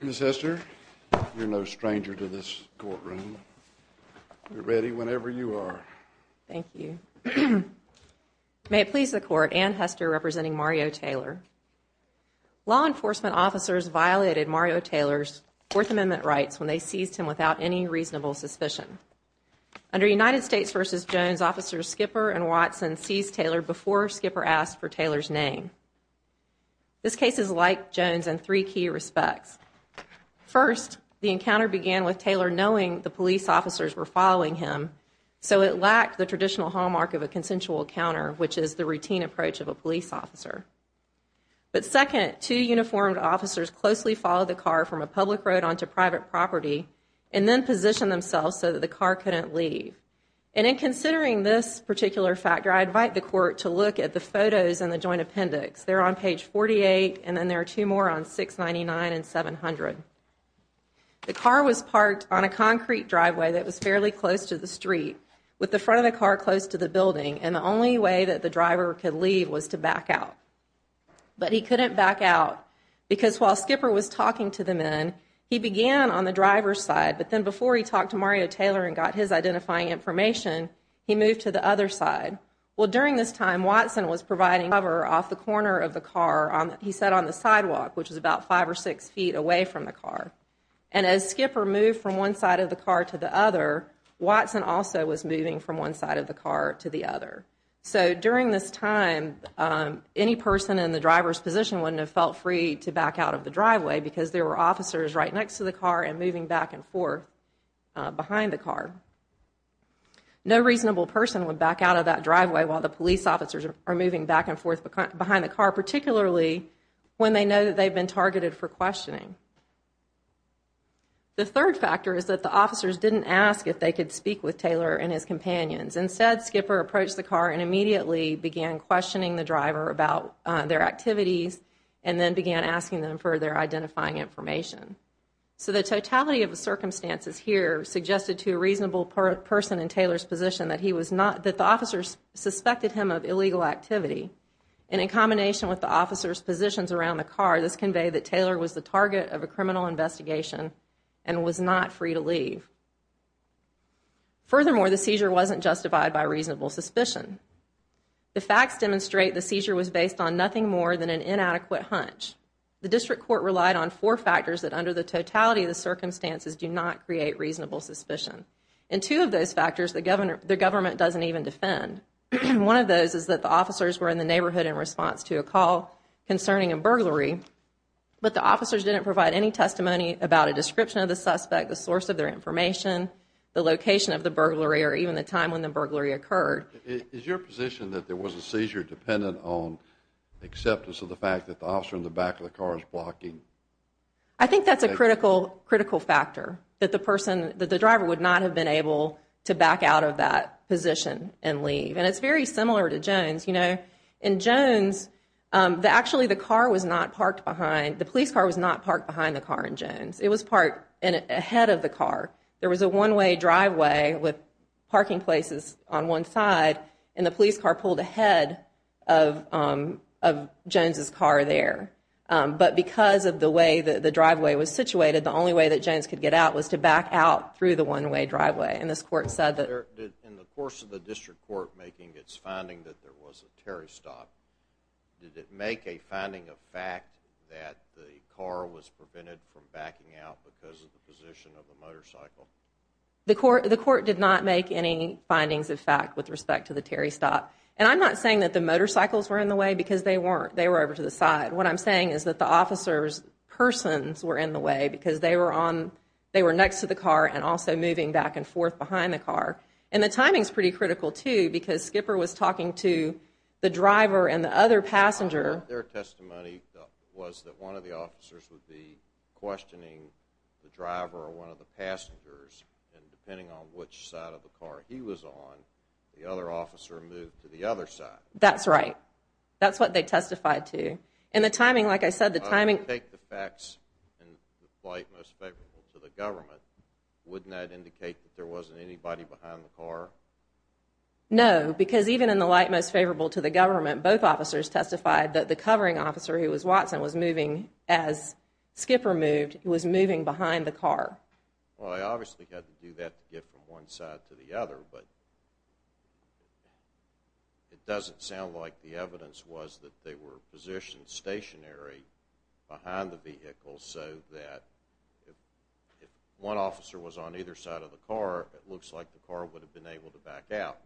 Miss Hester you're no stranger to this courtroom. We're ready whenever you are. Thank you May it please the court and Hester representing Mario Taylor Law enforcement officers violated Mario Taylor's Fourth Amendment rights when they seized him without any reasonable suspicion Under United States vs. Jones officers Skipper and Watson seized Taylor before Skipper asked for Taylor's name This case is like Jones and three key respects First the encounter began with Taylor knowing the police officers were following him So it lacked the traditional hallmark of a consensual counter, which is the routine approach of a police officer but second two uniformed officers closely followed the car from a public road onto private property and Then positioned themselves so that the car couldn't leave and in considering this particular factor I invite the court to look at the photos and the joint appendix there on page 48 and then there are two more on 699 and 700 The car was parked on a concrete driveway That was fairly close to the street With the front of the car close to the building and the only way that the driver could leave was to back out But he couldn't back out because while Skipper was talking to the men he began on the driver's side But then before he talked to Mario Taylor and got his identifying information He moved to the other side Well during this time Watson was providing cover off the corner of the car on he said on the sidewalk Which is about five or six feet away from the car and as Skipper moved from one side of the car to the other Watson also was moving from one side of the car to the other so during this time Any person in the driver's position wouldn't have felt free to back out of the driveway because there were officers right next to the car and moving back and forth behind the car No reasonable person would back out of that driveway while the police officers are moving back and forth behind the car particularly When they know that they've been targeted for questioning The third factor is that the officers didn't ask if they could speak with Taylor and his companions instead Skipper approached the car and immediately Began questioning the driver about their activities and then began asking them for their identifying information So the totality of the circumstances here suggested to a reasonable person in Taylor's position that he was not that the officers Suspected him of illegal activity and in combination with the officers positions around the car This conveyed that Taylor was the target of a criminal investigation and was not free to leave Furthermore the seizure wasn't justified by reasonable suspicion The facts demonstrate the seizure was based on nothing more than an inadequate hunch The district court relied on four factors that under the totality of the circumstances do not create reasonable suspicion and two of those factors the governor The government doesn't even defend and one of those is that the officers were in the neighborhood in response to a call concerning a burglary But the officers didn't provide any testimony about a description of the suspect the source of their information The location of the burglary or even the time when the burglary occurred is your position that there was a seizure dependent on? Acceptance of the fact that the officer in the back of the car is blocking. I Think that's a critical critical factor that the person that the driver would not have been able to back out of that Position and leave and it's very similar to Jones, you know in Jones The actually the car was not parked behind the police car was not parked behind the car in Jones It was part and ahead of the car there was a one-way driveway with parking places on one side and the police car pulled ahead of Jones's car there but because of the way that the driveway was situated the only way that Jones could get out was to back out through the One-way driveway and this court said that in the course of the district court making its finding that there was a Terry stop Did it make a finding of fact that the car was prevented from backing out because of the position of the motorcycle? The court the court did not make any findings of fact with respect to the Terry stop And I'm not saying that the motorcycles were in the way because they weren't they were over to the side What I'm saying is that the officers Persons were in the way because they were on they were next to the car and also moving back and forth behind the car and the timing is pretty critical to because Skipper was talking to the driver and the other passenger their testimony was that one of the officers would be Questioning the driver or one of the passengers and depending on which side of the car he was on The other officer moved to the other side, that's right That's what they testified to in the timing. Like I said the timing take the facts and the flight most favorable to the government Wouldn't that indicate that there wasn't anybody behind the car? No, because even in the light most favorable to the government both officers testified that the covering officer who was Watson was moving as Skipper moved it was moving behind the car Well, I obviously had to do that to get from one side to the other but It doesn't sound like the evidence was that they were positioned stationary behind the vehicle so that One officer was on either side of the car. It looks like the car would have been able to back out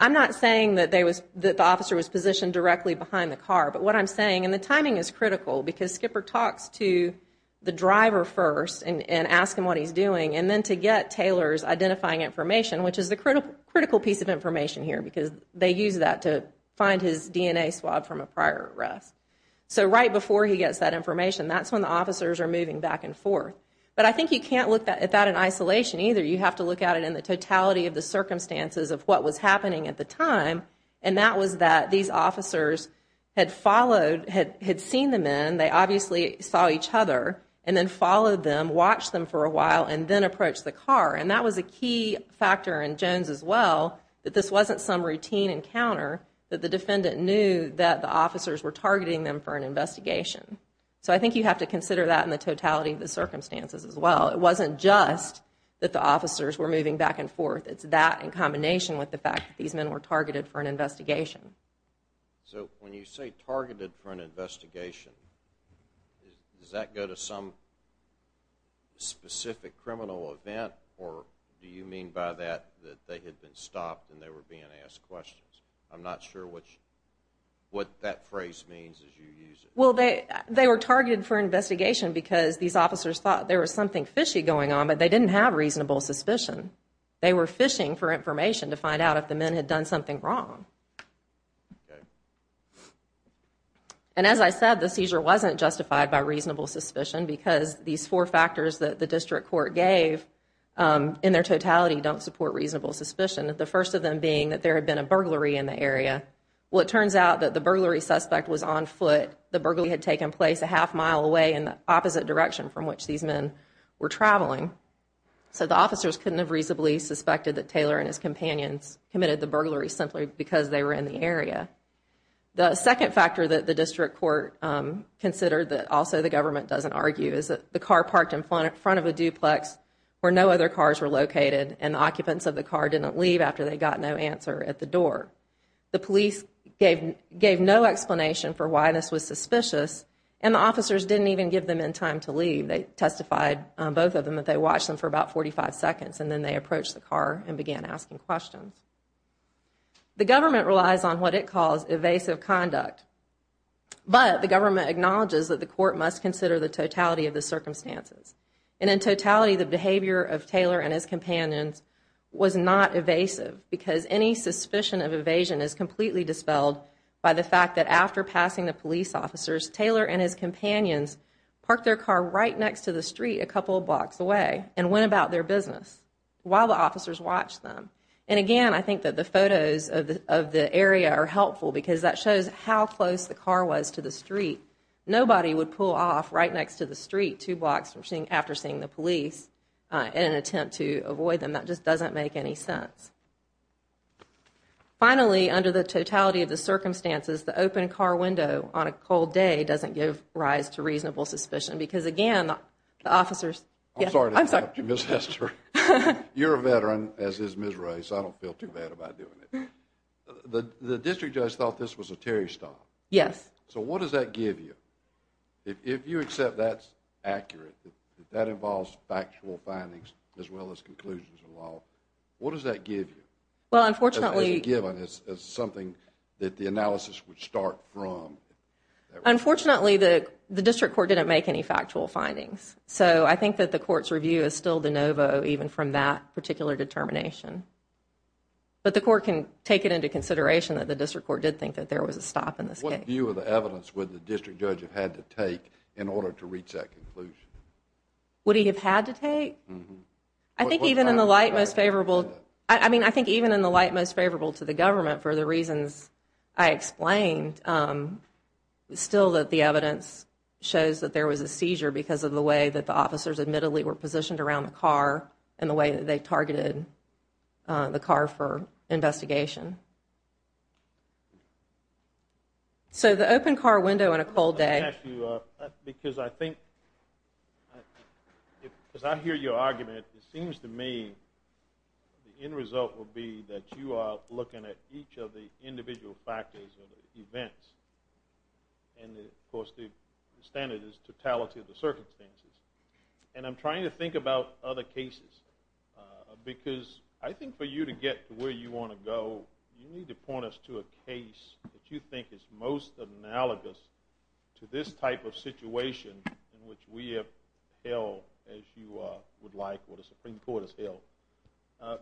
I'm not saying that they was that the officer was positioned directly behind the car But what I'm saying and the timing is critical because skipper talks to The driver first and ask him what he's doing and then to get Taylor's identifying information Which is the critical critical piece of information here because they use that to find his DNA swab from a prior arrest So right before he gets that information, that's when the officers are moving back and forth But I think you can't look at that in isolation either you have to look at it in the totality of the Circumstances of what was happening at the time and that was that these officers Had followed had had seen the men They obviously saw each other and then followed them watch them for a while and then approach the car and that was a key Factor in Jones as well that this wasn't some routine encounter that the defendant knew that the officers were targeting them for an investigation So I think you have to consider that in the totality of the circumstances as well It wasn't just that the officers were moving back and forth. It's that in combination with the fact that these men were targeted for an investigation So when you say targeted for an investigation Does that go to some? Specific criminal event or do you mean by that that they had been stopped and they were being asked questions. I'm not sure which What that phrase means is you use it? Well, they they were targeted for investigation because these officers thought there was something fishy going on, but they didn't have reasonable suspicion They were fishing for information to find out if the men had done something wrong And As I said the seizure wasn't justified by reasonable suspicion because these four factors that the district court gave In their totality don't support reasonable suspicion at the first of them being that there had been a burglary in the area Well, it turns out that the burglary suspect was on foot The burglary had taken place a half mile away in the opposite direction from which these men were traveling So the officers couldn't have reasonably suspected that Taylor and his companions committed the burglary simply because they were in the area the second factor that the district court Considered that also the government doesn't argue is that the car parked in front in front of a duplex? Where no other cars were located and occupants of the car didn't leave after they got no answer at the door The police gave gave no explanation for why this was suspicious and the officers didn't even give them in time to leave They testified both of them that they watched them for about 45 seconds, and then they approached the car and began asking questions The government relies on what it calls evasive conduct but the government acknowledges that the court must consider the totality of the Circumstances and in totality the behavior of Taylor and his companions Was not evasive because any suspicion of evasion is completely dispelled By the fact that after passing the police officers Taylor and his companions Parked their car right next to the street a couple of blocks away and went about their business While the officers watched them and again I think that the photos of the area are helpful because that shows how close the car was to the street Nobody would pull off right next to the street two blocks from seeing after seeing the police In an attempt to avoid them that just doesn't make any sense Finally under the totality of the circumstances the open car window on a cold day doesn't give rise to reasonable suspicion because again officers You're a veteran as is miss race, I don't feel too bad about doing it The the district judge thought this was a Terry stop. Yes, so what does that give you? If you accept that's accurate that involves factual findings as well as conclusions in law What does that give you well, unfortunately given is something that the analysis would start from Unfortunately, the the district court didn't make any factual findings So I think that the court's review is still de novo even from that particular determination But the court can take it into consideration that the district court did think that there was a stop in this What view of the evidence with the district judge have had to take in order to reach that conclusion? Would he have had to take I Think even in the light most favorable. I mean, I think even in the light most favorable to the government for the reasons I explained Still that the evidence Shows that there was a seizure because of the way that the officers admittedly were positioned around the car and the way that they targeted the car for investigation So the open car window in a cold day Because I think As I hear your argument it seems to me the end result will be that you are looking at each of the individual factors of the events and The of course the standard is totality of the circumstances and I'm trying to think about other cases Because I think for you to get to where you want to go You need to point us to a case that you think is most analogous To this type of situation in which we have held as you would like what a Supreme Court has held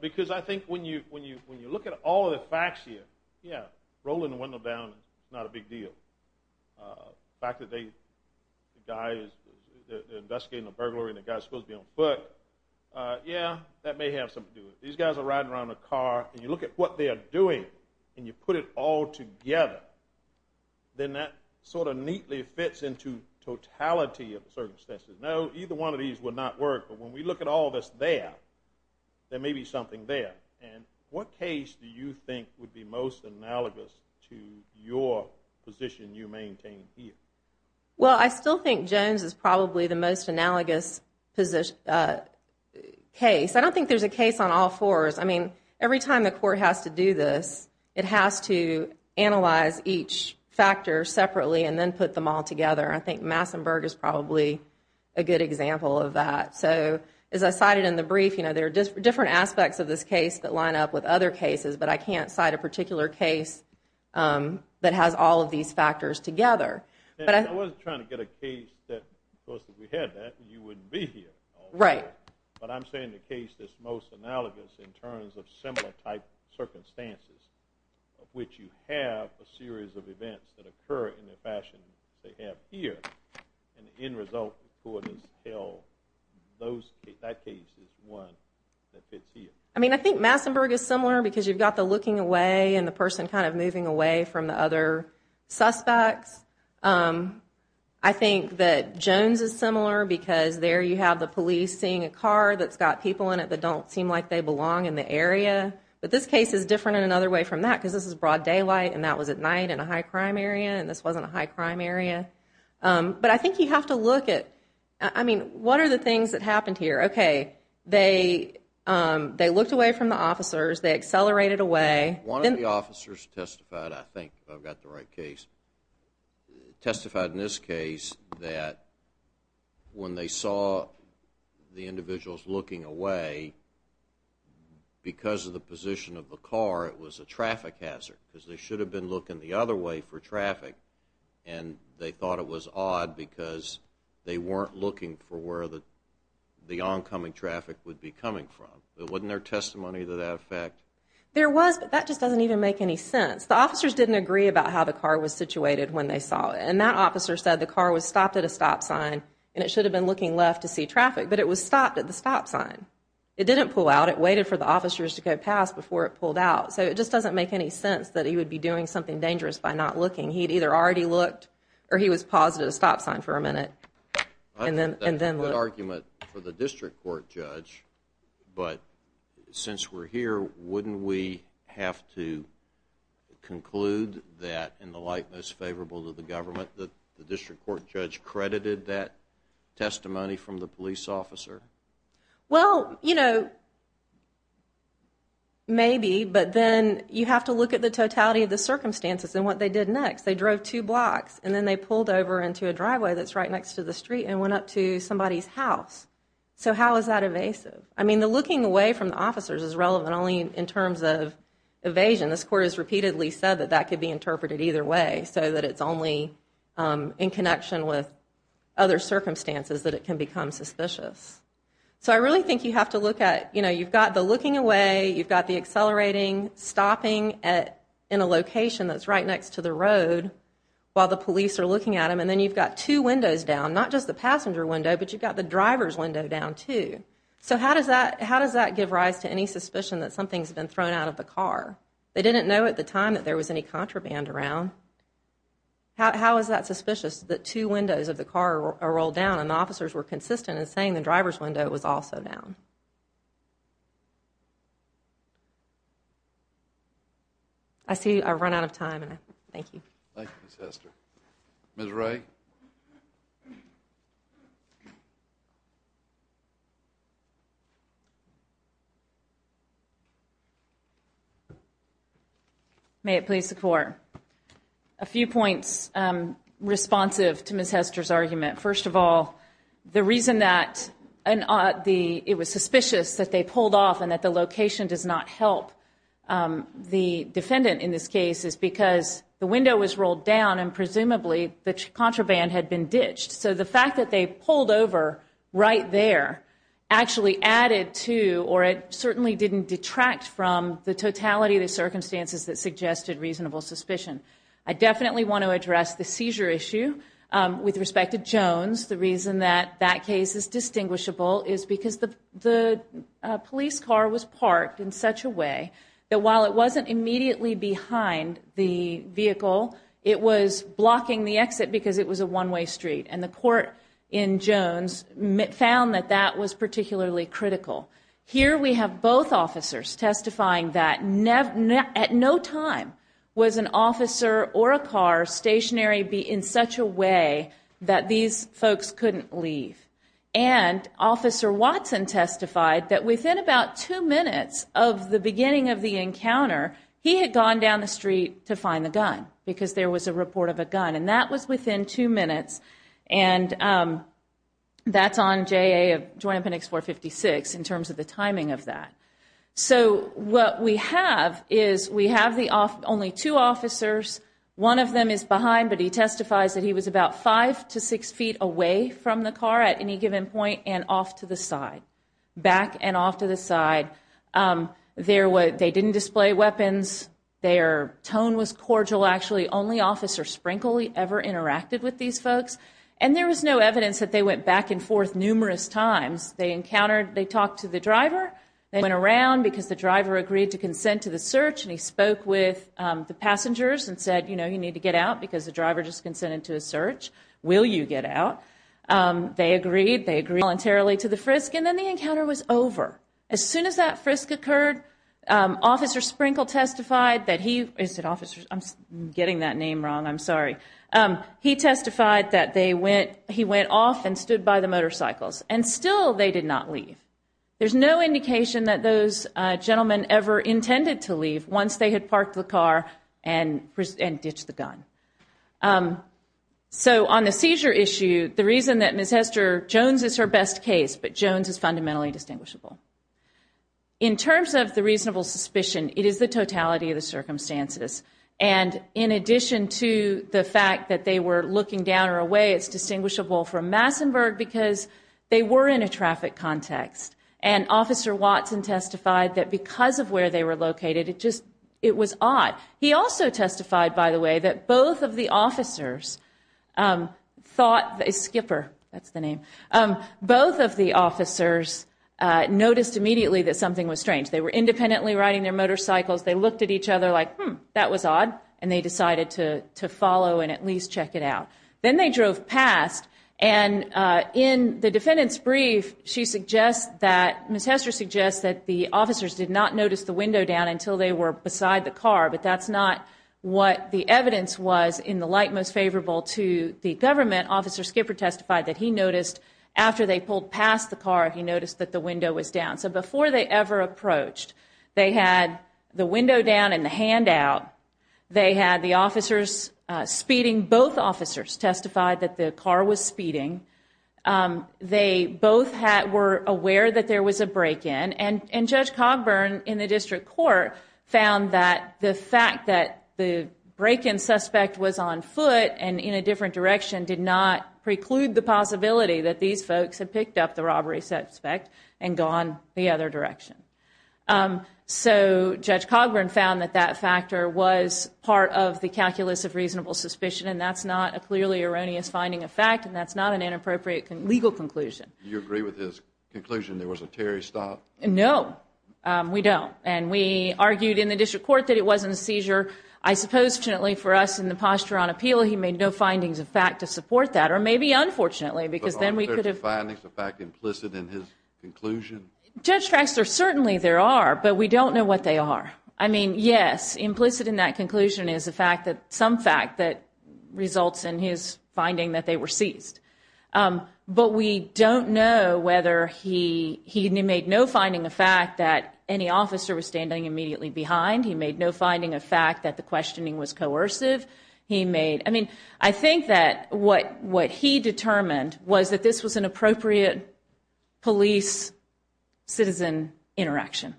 Because I think when you when you when you look at all of the facts here. Yeah rolling the window down. It's not a big deal fact that they guys Investigating the burglary and the guy's supposed to be on foot Yeah, that may have something to do with these guys are riding around the car and you look at what they are doing and you put It all together Then that sort of neatly fits into Totality of the circumstances no either one of these would not work, but when we look at all this there There may be something there, and what case do you think would be most analogous to your position you maintain? Well, I still think Jones is probably the most analogous position Case I don't think there's a case on all fours. I mean every time the court has to do this it has to Analyze each factor separately and then put them all together I think Massenburg is probably a good example of that so as I cited in the brief You know there are different aspects of this case that line up with other cases, but I can't cite a particular case That has all of these factors together Right, but I'm saying the case that's most analogous in terms of similar type Circumstances of which you have a series of events that occur in the fashion They have here and the end result for this hill Those that case is one I mean, I think Massenburg is similar because you've got the looking away and the person kind of moving away from the other suspects I Think that Jones is similar because there you have the police seeing a car That's got people in it that don't seem like they belong in the area but this case is different in another way from that because this is broad daylight and that was at night in a high-crime area and This wasn't a high-crime area But I think you have to look at I mean what are the things that happened here, okay? They They looked away from the officers. They accelerated away one of the officers testified. I think I've got the right case Testified in this case that when they saw the individuals looking away Because of the position of the car it was a traffic hazard because they should have been looking the other way for traffic and they thought it was odd because they weren't looking for where the The oncoming traffic would be coming from there wasn't their testimony to that effect There was but that just doesn't even make any sense the officers didn't agree about how the car was situated when they saw and that officer said the car was stopped at a stop sign and It should have been looking left to see traffic, but it was stopped at the stop sign It didn't pull out it waited for the officers to go past before it pulled out So it just doesn't make any sense that he would be doing something dangerous by not looking He'd either already looked or he was positive stop sign for a minute And then and then what argument for the district court judge? but Since we're here, wouldn't we have to? Conclude that in the light most favorable to the government that the district court judge credited that testimony from the police officer Well, you know Maybe but then you have to look at the totality of the circumstances and what they did next they drove two blocks And then they pulled over into a driveway that's right next to the street and went up to somebody's house So how is that evasive? I mean the looking away from the officers is relevant only in terms of Evasion this court has repeatedly said that that could be interpreted either way so that it's only In connection with other circumstances that it can become suspicious So I really think you have to look at you know you've got the looking away You've got the accelerating stopping at in a location. That's right next to the road While the police are looking at him, and then you've got two windows down not just the passenger window But you've got the driver's window down, too So how does that how does that give rise to any suspicion that something's been thrown out of the car? They didn't know at the time that there was any contraband around How is that suspicious that two windows of the car are rolled down and officers were consistent and saying the driver's window was also down I? See I run out of time, and I thank you May it please the court a few points responsive to miss Hester's argument first of all the reason that And on the it was suspicious that they pulled off and that the location does not help The defendant in this case is because the window was rolled down and presumably the contraband had been ditched So the fact that they pulled over right there Actually added to or it certainly didn't detract from the totality the circumstances that suggested reasonable suspicion I definitely want to address the seizure issue with respect to Jones the reason that that case is distinguishable is because the the police car was parked in such a way that while it wasn't immediately behind the Vehicle it was blocking the exit because it was a one-way street and the court in That was particularly critical here. We have both officers testifying that never at no time was an officer or a car stationary be in such a way that these folks couldn't leave and Officer Watson testified that within about two minutes of the beginning of the encounter he had gone down the street to find the gun because there was a report of a gun and that was within two minutes and That's on J a joint appendix 456 in terms of the timing of that So what we have is we have the off only two officers One of them is behind but he testifies that he was about five to six feet away From the car at any given point and off to the side back and off to the side There were they didn't display weapons Their tone was cordial actually only officer Sprinkley ever Interacted with these folks and there was no evidence that they went back and forth numerous times They encountered they talked to the driver They went around because the driver agreed to consent to the search and he spoke with The passengers and said, you know, you need to get out because the driver just consented to a search. Will you get out? They agreed they agree voluntarily to the frisk and then the encounter was over as soon as that frisk occurred Officer Sprinkle testified that he is an officer. I'm getting that name wrong. I'm sorry He testified that they went he went off and stood by the motorcycles and still they did not leave there's no indication that those gentlemen ever intended to leave once they had parked the car and And ditched the gun So on the seizure issue the reason that miss Hester Jones is her best case, but Jones is fundamentally distinguishable In terms of the reasonable suspicion it is the totality of the circumstances and In addition to the fact that they were looking down or away it's distinguishable from Massenburg because they were in a traffic context and Officer Watson testified that because of where they were located it just it was odd He also testified by the way that both of the officers Thought a skipper. That's the name both of the officers Noticed immediately that something was strange. They were independently riding their motorcycles They looked at each other like that was odd and they decided to to follow and at least check it out then they drove past and In the defendant's brief She suggests that miss Hester suggests that the officers did not notice the window down until they were beside the car But that's not what the evidence was in the light most favorable to the government officer skipper testified that he noticed After they pulled past the car he noticed that the window was down So before they ever approached they had the window down in the handout They had the officers Speeding both officers testified that the car was speeding They both had were aware that there was a break-in and and judge Cogburn in the district court Found that the fact that the break-in suspect was on foot and in a different direction did not Preclude the possibility that these folks had picked up the robbery suspect and gone the other direction So judge Cogburn found that that factor was part of the calculus of reasonable suspicion And that's not a clearly erroneous finding of fact and that's not an inappropriate and legal conclusion. You agree with his conclusion There was a Terry stop. No We don't and we argued in the district court that it wasn't a seizure I Supposedly for us in the posture on appeal he made no findings of fact to support that or maybe Unfortunately, because then we could have findings the fact implicit in his conclusion Judge tracks are certainly there are but we don't know what they are I mean, yes implicit in that conclusion is the fact that some fact that Results in his finding that they were seized But we don't know whether he he made no finding the fact that any officer was standing immediately behind He made no finding a fact that the questioning was coercive He made I mean, I think that what what he determined was that this was an appropriate police citizen interaction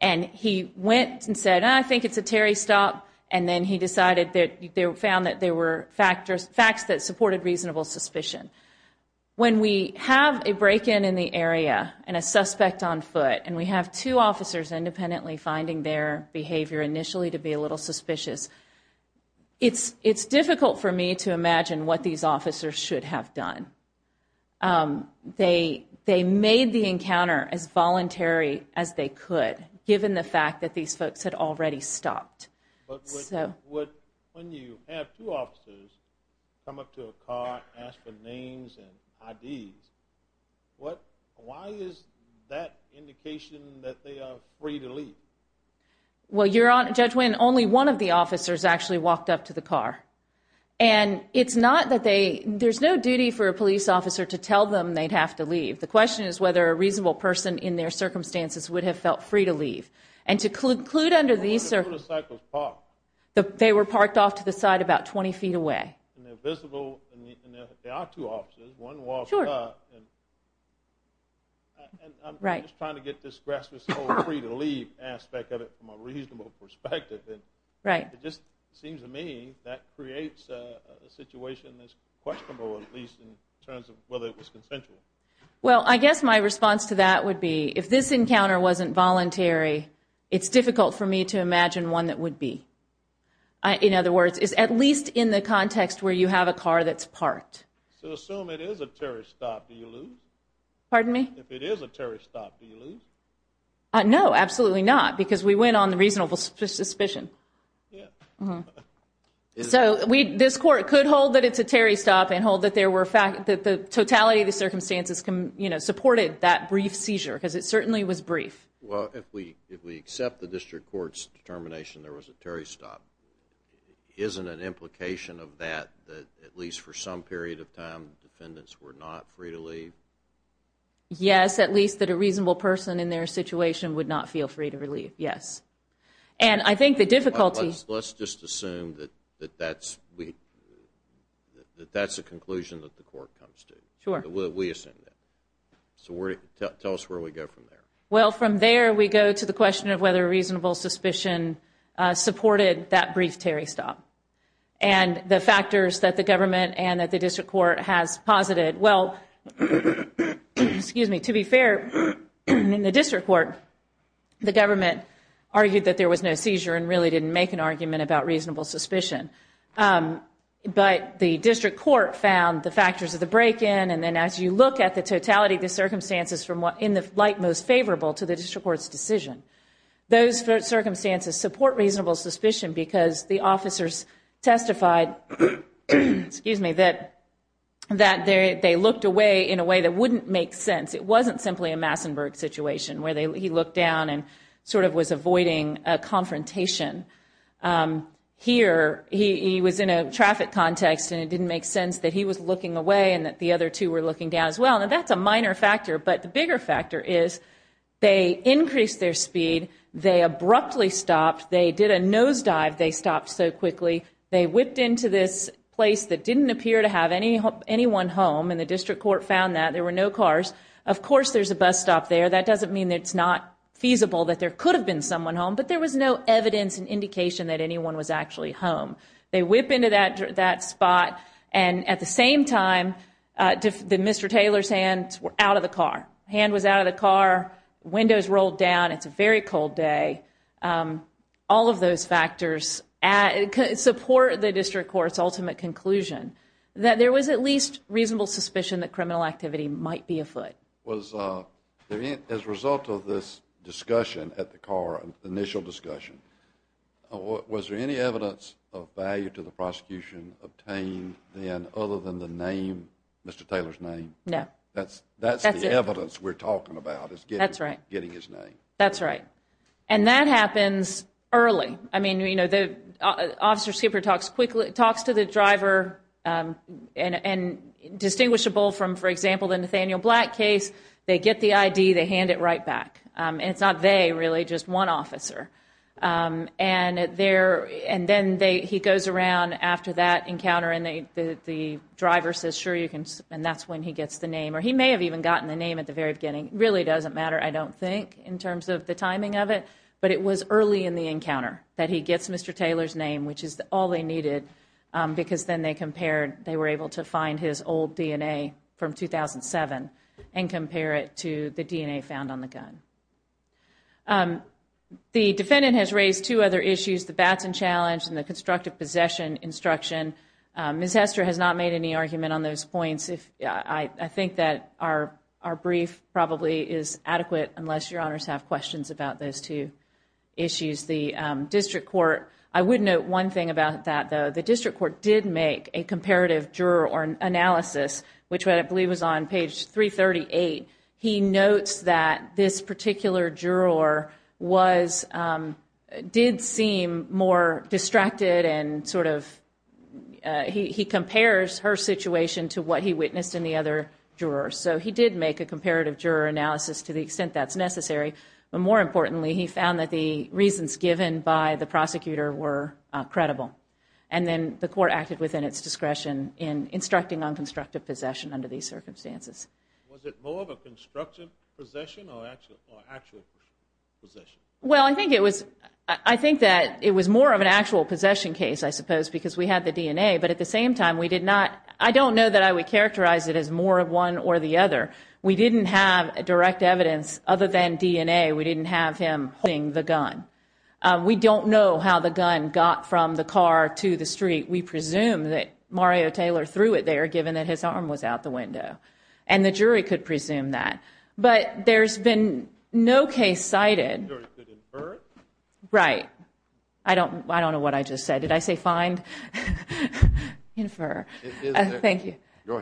and He went and said I think it's a Terry stop and then he decided that they found that there were factors facts that supported reasonable suspicion When we have a break-in in the area and a suspect on foot and we have two officers independently finding their behavior initially to be a little suspicious It's it's difficult for me to imagine what these officers should have done They they made the encounter as voluntary as they could given the fact that these folks had already stopped What why is that indication that they are free to leave Well, you're on a judge when only one of the officers actually walked up to the car and It's not that they there's no duty for a police officer to tell them they'd have to leave The question is whether a reasonable person in their circumstances would have felt free to leave and to conclude under these The they were parked off to the side about 20 feet away Visible Aspect of it from a reasonable perspective Right. It just seems to me that creates a situation that's questionable at least in terms of whether it was consensual Well, I guess my response to that would be if this encounter wasn't voluntary. It's difficult for me to imagine one that would be I In other words is at least in the context where you have a car that's parked Pardon me No, absolutely not because we went on the reasonable suspicion So we this court could hold that it's a Terry stop and hold that there were fact that the totality of the circumstances can you Know supported that brief seizure because it certainly was brief. Well, if we if we accept the district courts determination, there was a Terry stop Isn't an implication of that that at least for some period of time defendants were not free to leave Yes, at least that a reasonable person in their situation would not feel free to relieve. Yes, and I think the difficulties Let's just assume that that's we That that's a conclusion that the court comes to sure what we assume that So we're tell us where we go from there. Well from there we go to the question of whether a reasonable suspicion Supported that brief Terry stop and the factors that the government and that the district court has posited well Excuse me to be fair in the district court The government argued that there was no seizure and really didn't make an argument about reasonable suspicion but the district court found the factors of the break-in and then as you look at the totality the Circumstances from what in the light most favorable to the district courts decision those Circumstances support reasonable suspicion because the officers testified Excuse me that That they looked away in a way that wouldn't make sense It wasn't simply a Massenburg situation where they look down and sort of was avoiding a confrontation Here he was in a traffic context and it didn't make sense that he was looking away and that the other two were looking down as well, and that's a minor factor, but the bigger factor is They increased their speed they abruptly stopped they did a nosedive they stopped so quickly They whipped into this place that didn't appear to have any hope anyone home and the district court found that there were no cars Of course, there's a bus stop there. That doesn't mean it's not feasible that there could have been someone home But there was no evidence and indication that anyone was actually home. They whip into that that spot and at the same time The mr. Taylor's hands were out of the car hand was out of the car windows rolled down. It's a very cold day all of those factors at Support the district courts ultimate conclusion that there was at least reasonable suspicion that criminal activity might be afoot was As a result of this discussion at the car and initial discussion Was there any evidence of value to the prosecution obtained then other than the name? Mr. Taylor's name. No, that's that's evidence. We're talking about. It's good. That's right getting his name. That's right, and that happens Early, I mean, you know the officer skipper talks quickly it talks to the driver and Distinguishable from for example the Nathaniel black case they get the ID they hand it right back and it's not they really just one officer and there and then they he goes around after that encounter and they the Driver says sure you can and that's when he gets the name or he may have even gotten the name at the very beginning It really doesn't matter. I don't think in terms of the timing of it, but it was early in the encounter that he gets Mr. Taylor's name, which is all they needed Because then they compared they were able to find his old DNA from 2007 and compare it to the DNA found on the gun The defendant has raised two other issues the Batson challenge and the constructive possession instruction Miss Hester has not made any argument on those points If I think that our our brief probably is adequate unless your honors have questions about those two Issues the district court. I would note one thing about that though The district court did make a comparative juror or analysis, which I believe was on page 338 he notes that this particular juror was did seem more distracted and sort of He compares her situation to what he witnessed in the other jurors So he did make a comparative juror analysis to the extent that's necessary but more importantly he found that the reasons given by the prosecutor were Credible and then the court acted within its discretion in instructing on constructive possession under these circumstances Well, I think it was I think that it was more of an actual possession case I suppose because we had the DNA but at the same time we did not I don't know that I would characterize it as more Of one or the other we didn't have a direct evidence other than DNA. We didn't have him holding the gun We don't know how the gun got from the car to the street We presume that Mario Taylor threw it there given that his arm was out the window and the jury could presume that But there's been no case cited Right, I don't I don't know what I just said did I say find Infer thank you All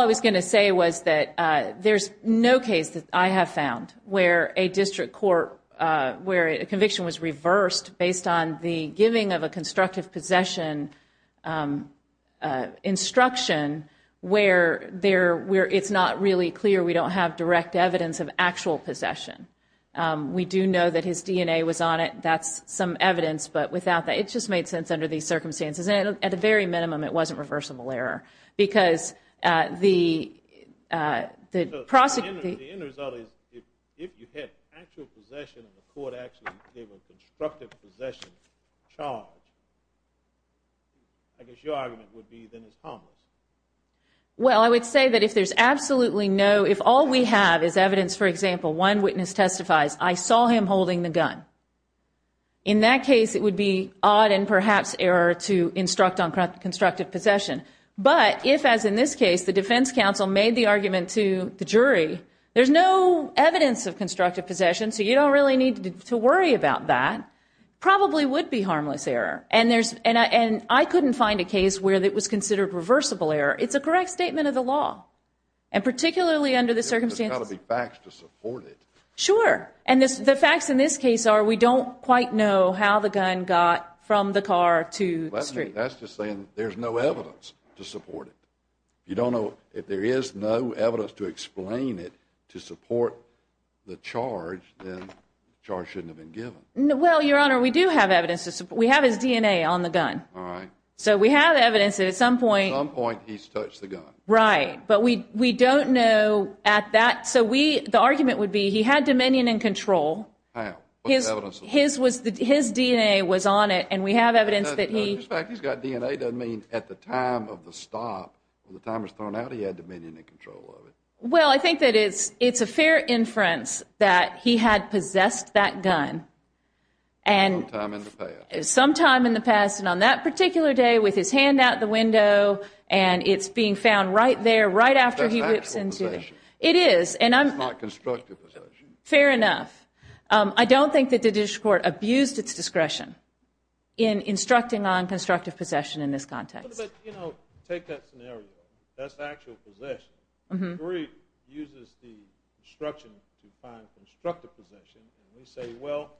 I was going to say was that there's no case that I have found where a district court Where a conviction was reversed based on the giving of a constructive possession Instruction where there where it's not really clear. We don't have direct evidence of actual possession We do know that his DNA was on it. That's some evidence but without that it just made sense under these circumstances and at the very minimum, it wasn't reversible error because the the Prosecutor Well, I would say that if there's absolutely no if all we have is evidence for example one witness testifies I saw him holding the gun in That case it would be odd and perhaps error to instruct on constructive possession But if as in this case the defense counsel made the argument to the jury, there's no evidence of constructive possession So you don't really need to worry about that Probably would be harmless error and there's and I and I couldn't find a case where that was considered reversible error it's a correct statement of the law and Particularly under the circumstances back to support it Sure And this the facts in this case are we don't quite know how the gun got from the car to the street There's no evidence to support it You don't know if there is no evidence to explain it to support the charge Charge shouldn't have been given. No. Well, your honor. We do have evidence to support. We have his DNA on the gun All right, so we have evidence at some point on point He's touched the gun right, but we we don't know at that So we the argument would be he had dominion and control His his was the his DNA was on it and we have evidence that he Doesn't mean at the time of the stop the time was thrown out. He had dominion and control well, I think that it's it's a fair inference that he had possessed that gun and Sometime in the past and on that particular day with his hand out the window and it's being found right there right after he It is and I'm not constructive Fair enough, I don't think that the district court abused its discretion in instructing on constructive possession in this context Say well,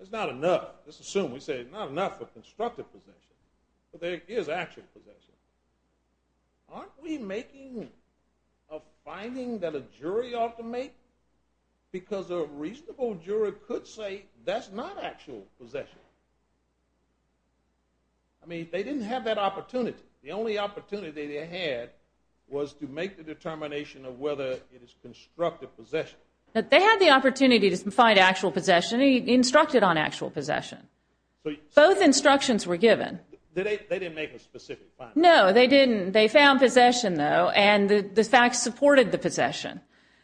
it's not enough. Let's assume we say it's not enough for constructive position, but there is actual Aren't we making a Jury ought to make because a reasonable jury could say that's not actual possession. I Mean they didn't have that opportunity the only opportunity they had Was to make the determination of whether it is constructive possession that they had the opportunity to find actual possession instructed on actual possession Both instructions were given No, they didn't they found possession though and the fact supported the possession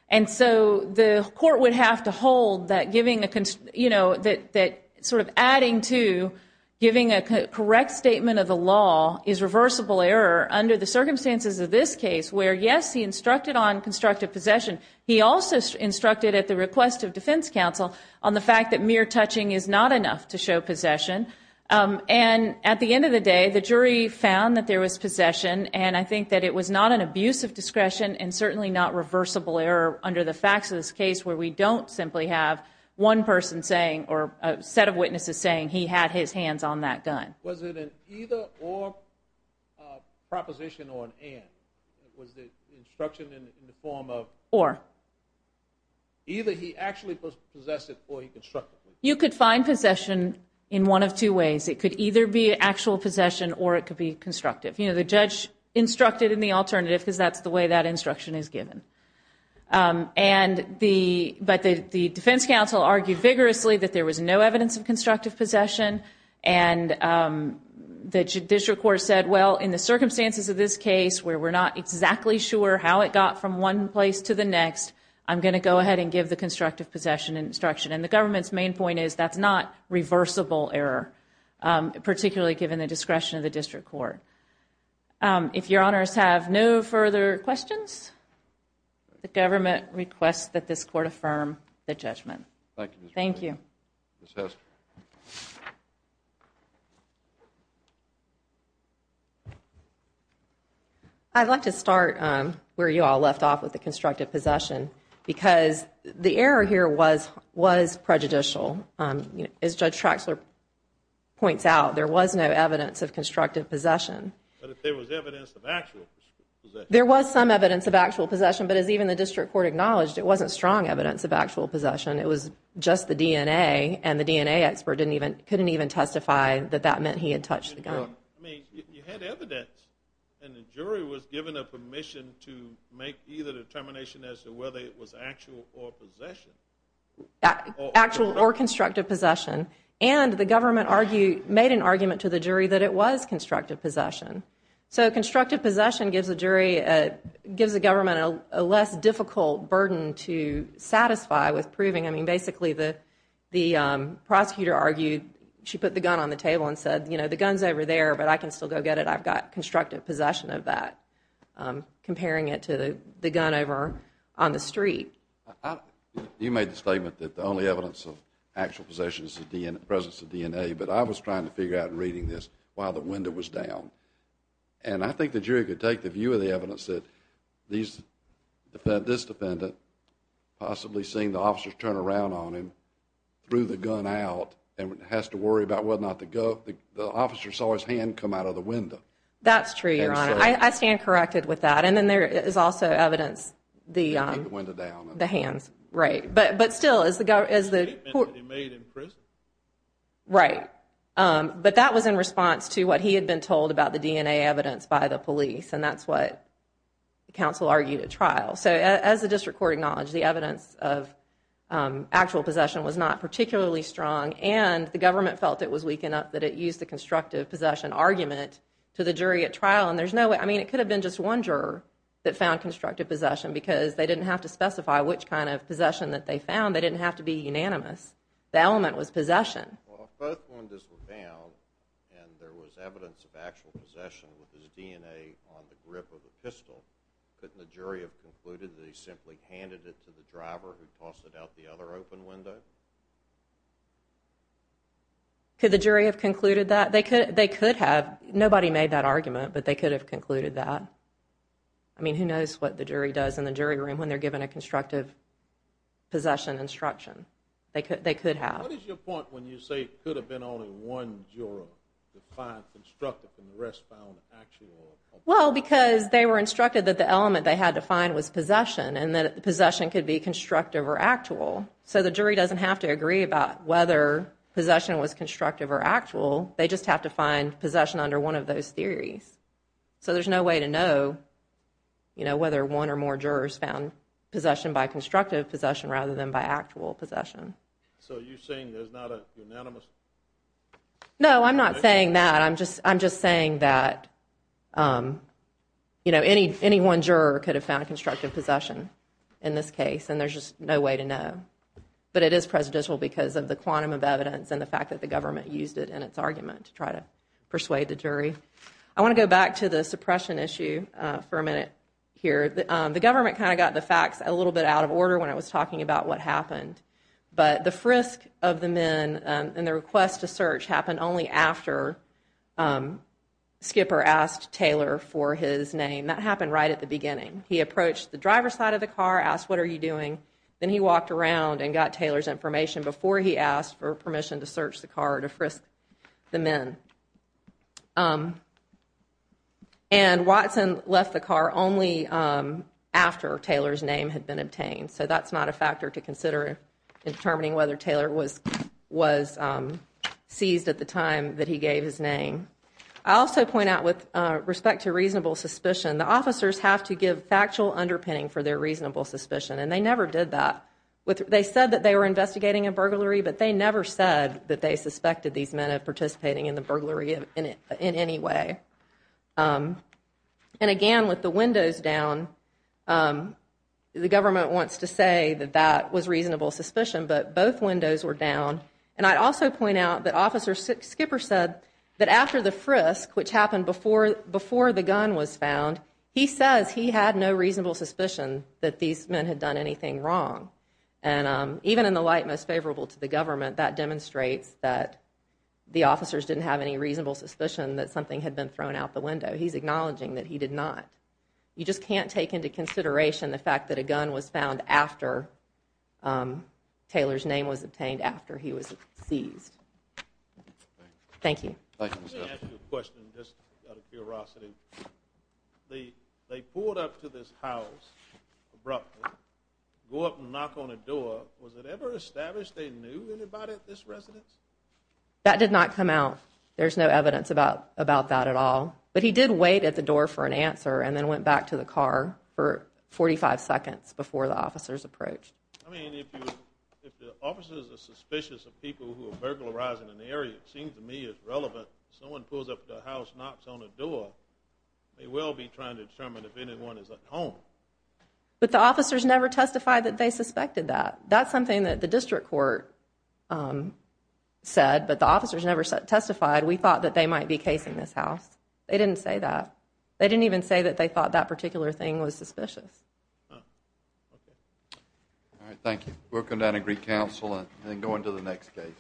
and so the court would have to hold that giving the cons, you know that that sort of adding to Giving a correct statement of the law is reversible error under the circumstances of this case where yes He instructed on constructive possession He also instructed at the request of Defense Council on the fact that mere touching is not enough to show possession And at the end of the day the jury found that there was possession And I think that it was not an abuse of discretion and certainly not reversible error under the facts of this case where we don't simply have one person saying or a set of witnesses saying he had his hands on that gun was it an either or Proposition on Or Either he actually possessed it or he constructed you could find possession in one of two ways It could either be actual possession or it could be constructive, you know The judge instructed in the alternative because that's the way that instruction is given and the but the Defense Council argued vigorously that there was no evidence of constructive possession and The Judicial Court said well in the circumstances of this case where we're not exactly sure how it got from one place to the next I'm gonna go ahead and give the constructive possession instruction and the government's main point is that's not reversible error particularly given the discretion of the district court If your honors have no further questions The government requests that this court affirm the judgment. Thank you. Thank you I'd like to start where you all left off with the constructive possession because the error here was was prejudicial as judge Traxler Points out there was no evidence of constructive possession There was some evidence of actual possession but as even the district court acknowledged it wasn't strong evidence of actual possession It was just the DNA and the DNA expert didn't even couldn't even testify that that meant he had touched the gun Jury was given a permission to make either determination as to whether it was actual or possession Actual or constructive possession and the government argued made an argument to the jury that it was constructive possession So constructive possession gives a jury Gives the government a less difficult burden to satisfy with proving I mean basically the the prosecutor argued she put the gun on the table and said, you know, the guns over there But I can still go get it. I've got constructive possession of that Comparing it to the gun over on the street You made the statement that the only evidence of actual possessions at the end of presence of DNA but I was trying to figure out and reading this while the window was down and I think the jury could take the view of the evidence that these defend this defendant Possibly seeing the officers turn around on him Through the gun out and has to worry about whether or not to go the officer saw his hand come out of the window That's true. I stand corrected with that. And then there is also evidence the Hands, right, but but still as the guy is the Right But that was in response to what he had been told about the DNA evidence by the police and that's what? the council argued at trial so as the district court acknowledged the evidence of Actual possession was not particularly strong and the government felt it was weak enough that it used the constructive possession Argument to the jury at trial and there's no way I mean it could have been just one juror That found constructive possession because they didn't have to specify which kind of possession that they found they didn't have to be unanimous The element was possession Could the jury have concluded that they could they could have nobody made that argument, but they could have concluded that I Knows what the jury does in the jury room when they're given a constructive Possession instruction they could they could have Well because they were instructed that the element they had to find was possession and that the possession could be constructive or actual So the jury doesn't have to agree about whether Possession was constructive or actual they just have to find possession under one of those theories So there's no way to know You know whether one or more jurors found possession by constructive possession rather than by actual possession No, I'm not saying that I'm just I'm just saying that You know any any one juror could have found constructive possession in this case and there's just no way to know but it is presidential because of the quantum of evidence and the fact that the government used it and its argument to try to Suppress an issue for a minute here the government kind of got the facts a little bit out of order when I was talking about What happened but the frisk of the men and the request to search happened only after? Skipper asked Taylor for his name that happened right at the beginning He approached the driver's side of the car asked what are you doing? Then he walked around and got Taylor's information before he asked for permission to search the car to frisk the men And Watson left the car only After Taylor's name had been obtained. So that's not a factor to consider determining whether Taylor was was Seized at the time that he gave his name I also point out with respect to reasonable suspicion the officers have to give factual underpinning for their reasonable suspicion And they never did that with they said that they were investigating a burglary But they never said that they suspected these men of participating in the burglary in it in any way And again with the windows down The government wants to say that that was reasonable suspicion But both windows were down and I'd also point out that officer Skipper said that after the frisk which happened before before the gun was found he says he had no reasonable suspicion that these men had done anything wrong and even in the light most favorable to the government that demonstrates that The officers didn't have any reasonable suspicion that something had been thrown out the window he's acknowledging that he did not You just can't take into consideration the fact that a gun was found after Taylor's name was obtained after he was seized Thank you The they pulled up to this house abruptly Go up and knock on a door was it ever established. They knew anybody at this residence That did not come out There's no evidence about about that at all But he did wait at the door for an answer and then went back to the car for 45 seconds before the officers approached But the officers never testified that they suspected that that's something that the district court Said but the officers never testified. We thought that they might be casing this house. They didn't say that They didn't even say that they thought that particular thing was suspicious Thank you working down a Greek Council and then going to the next case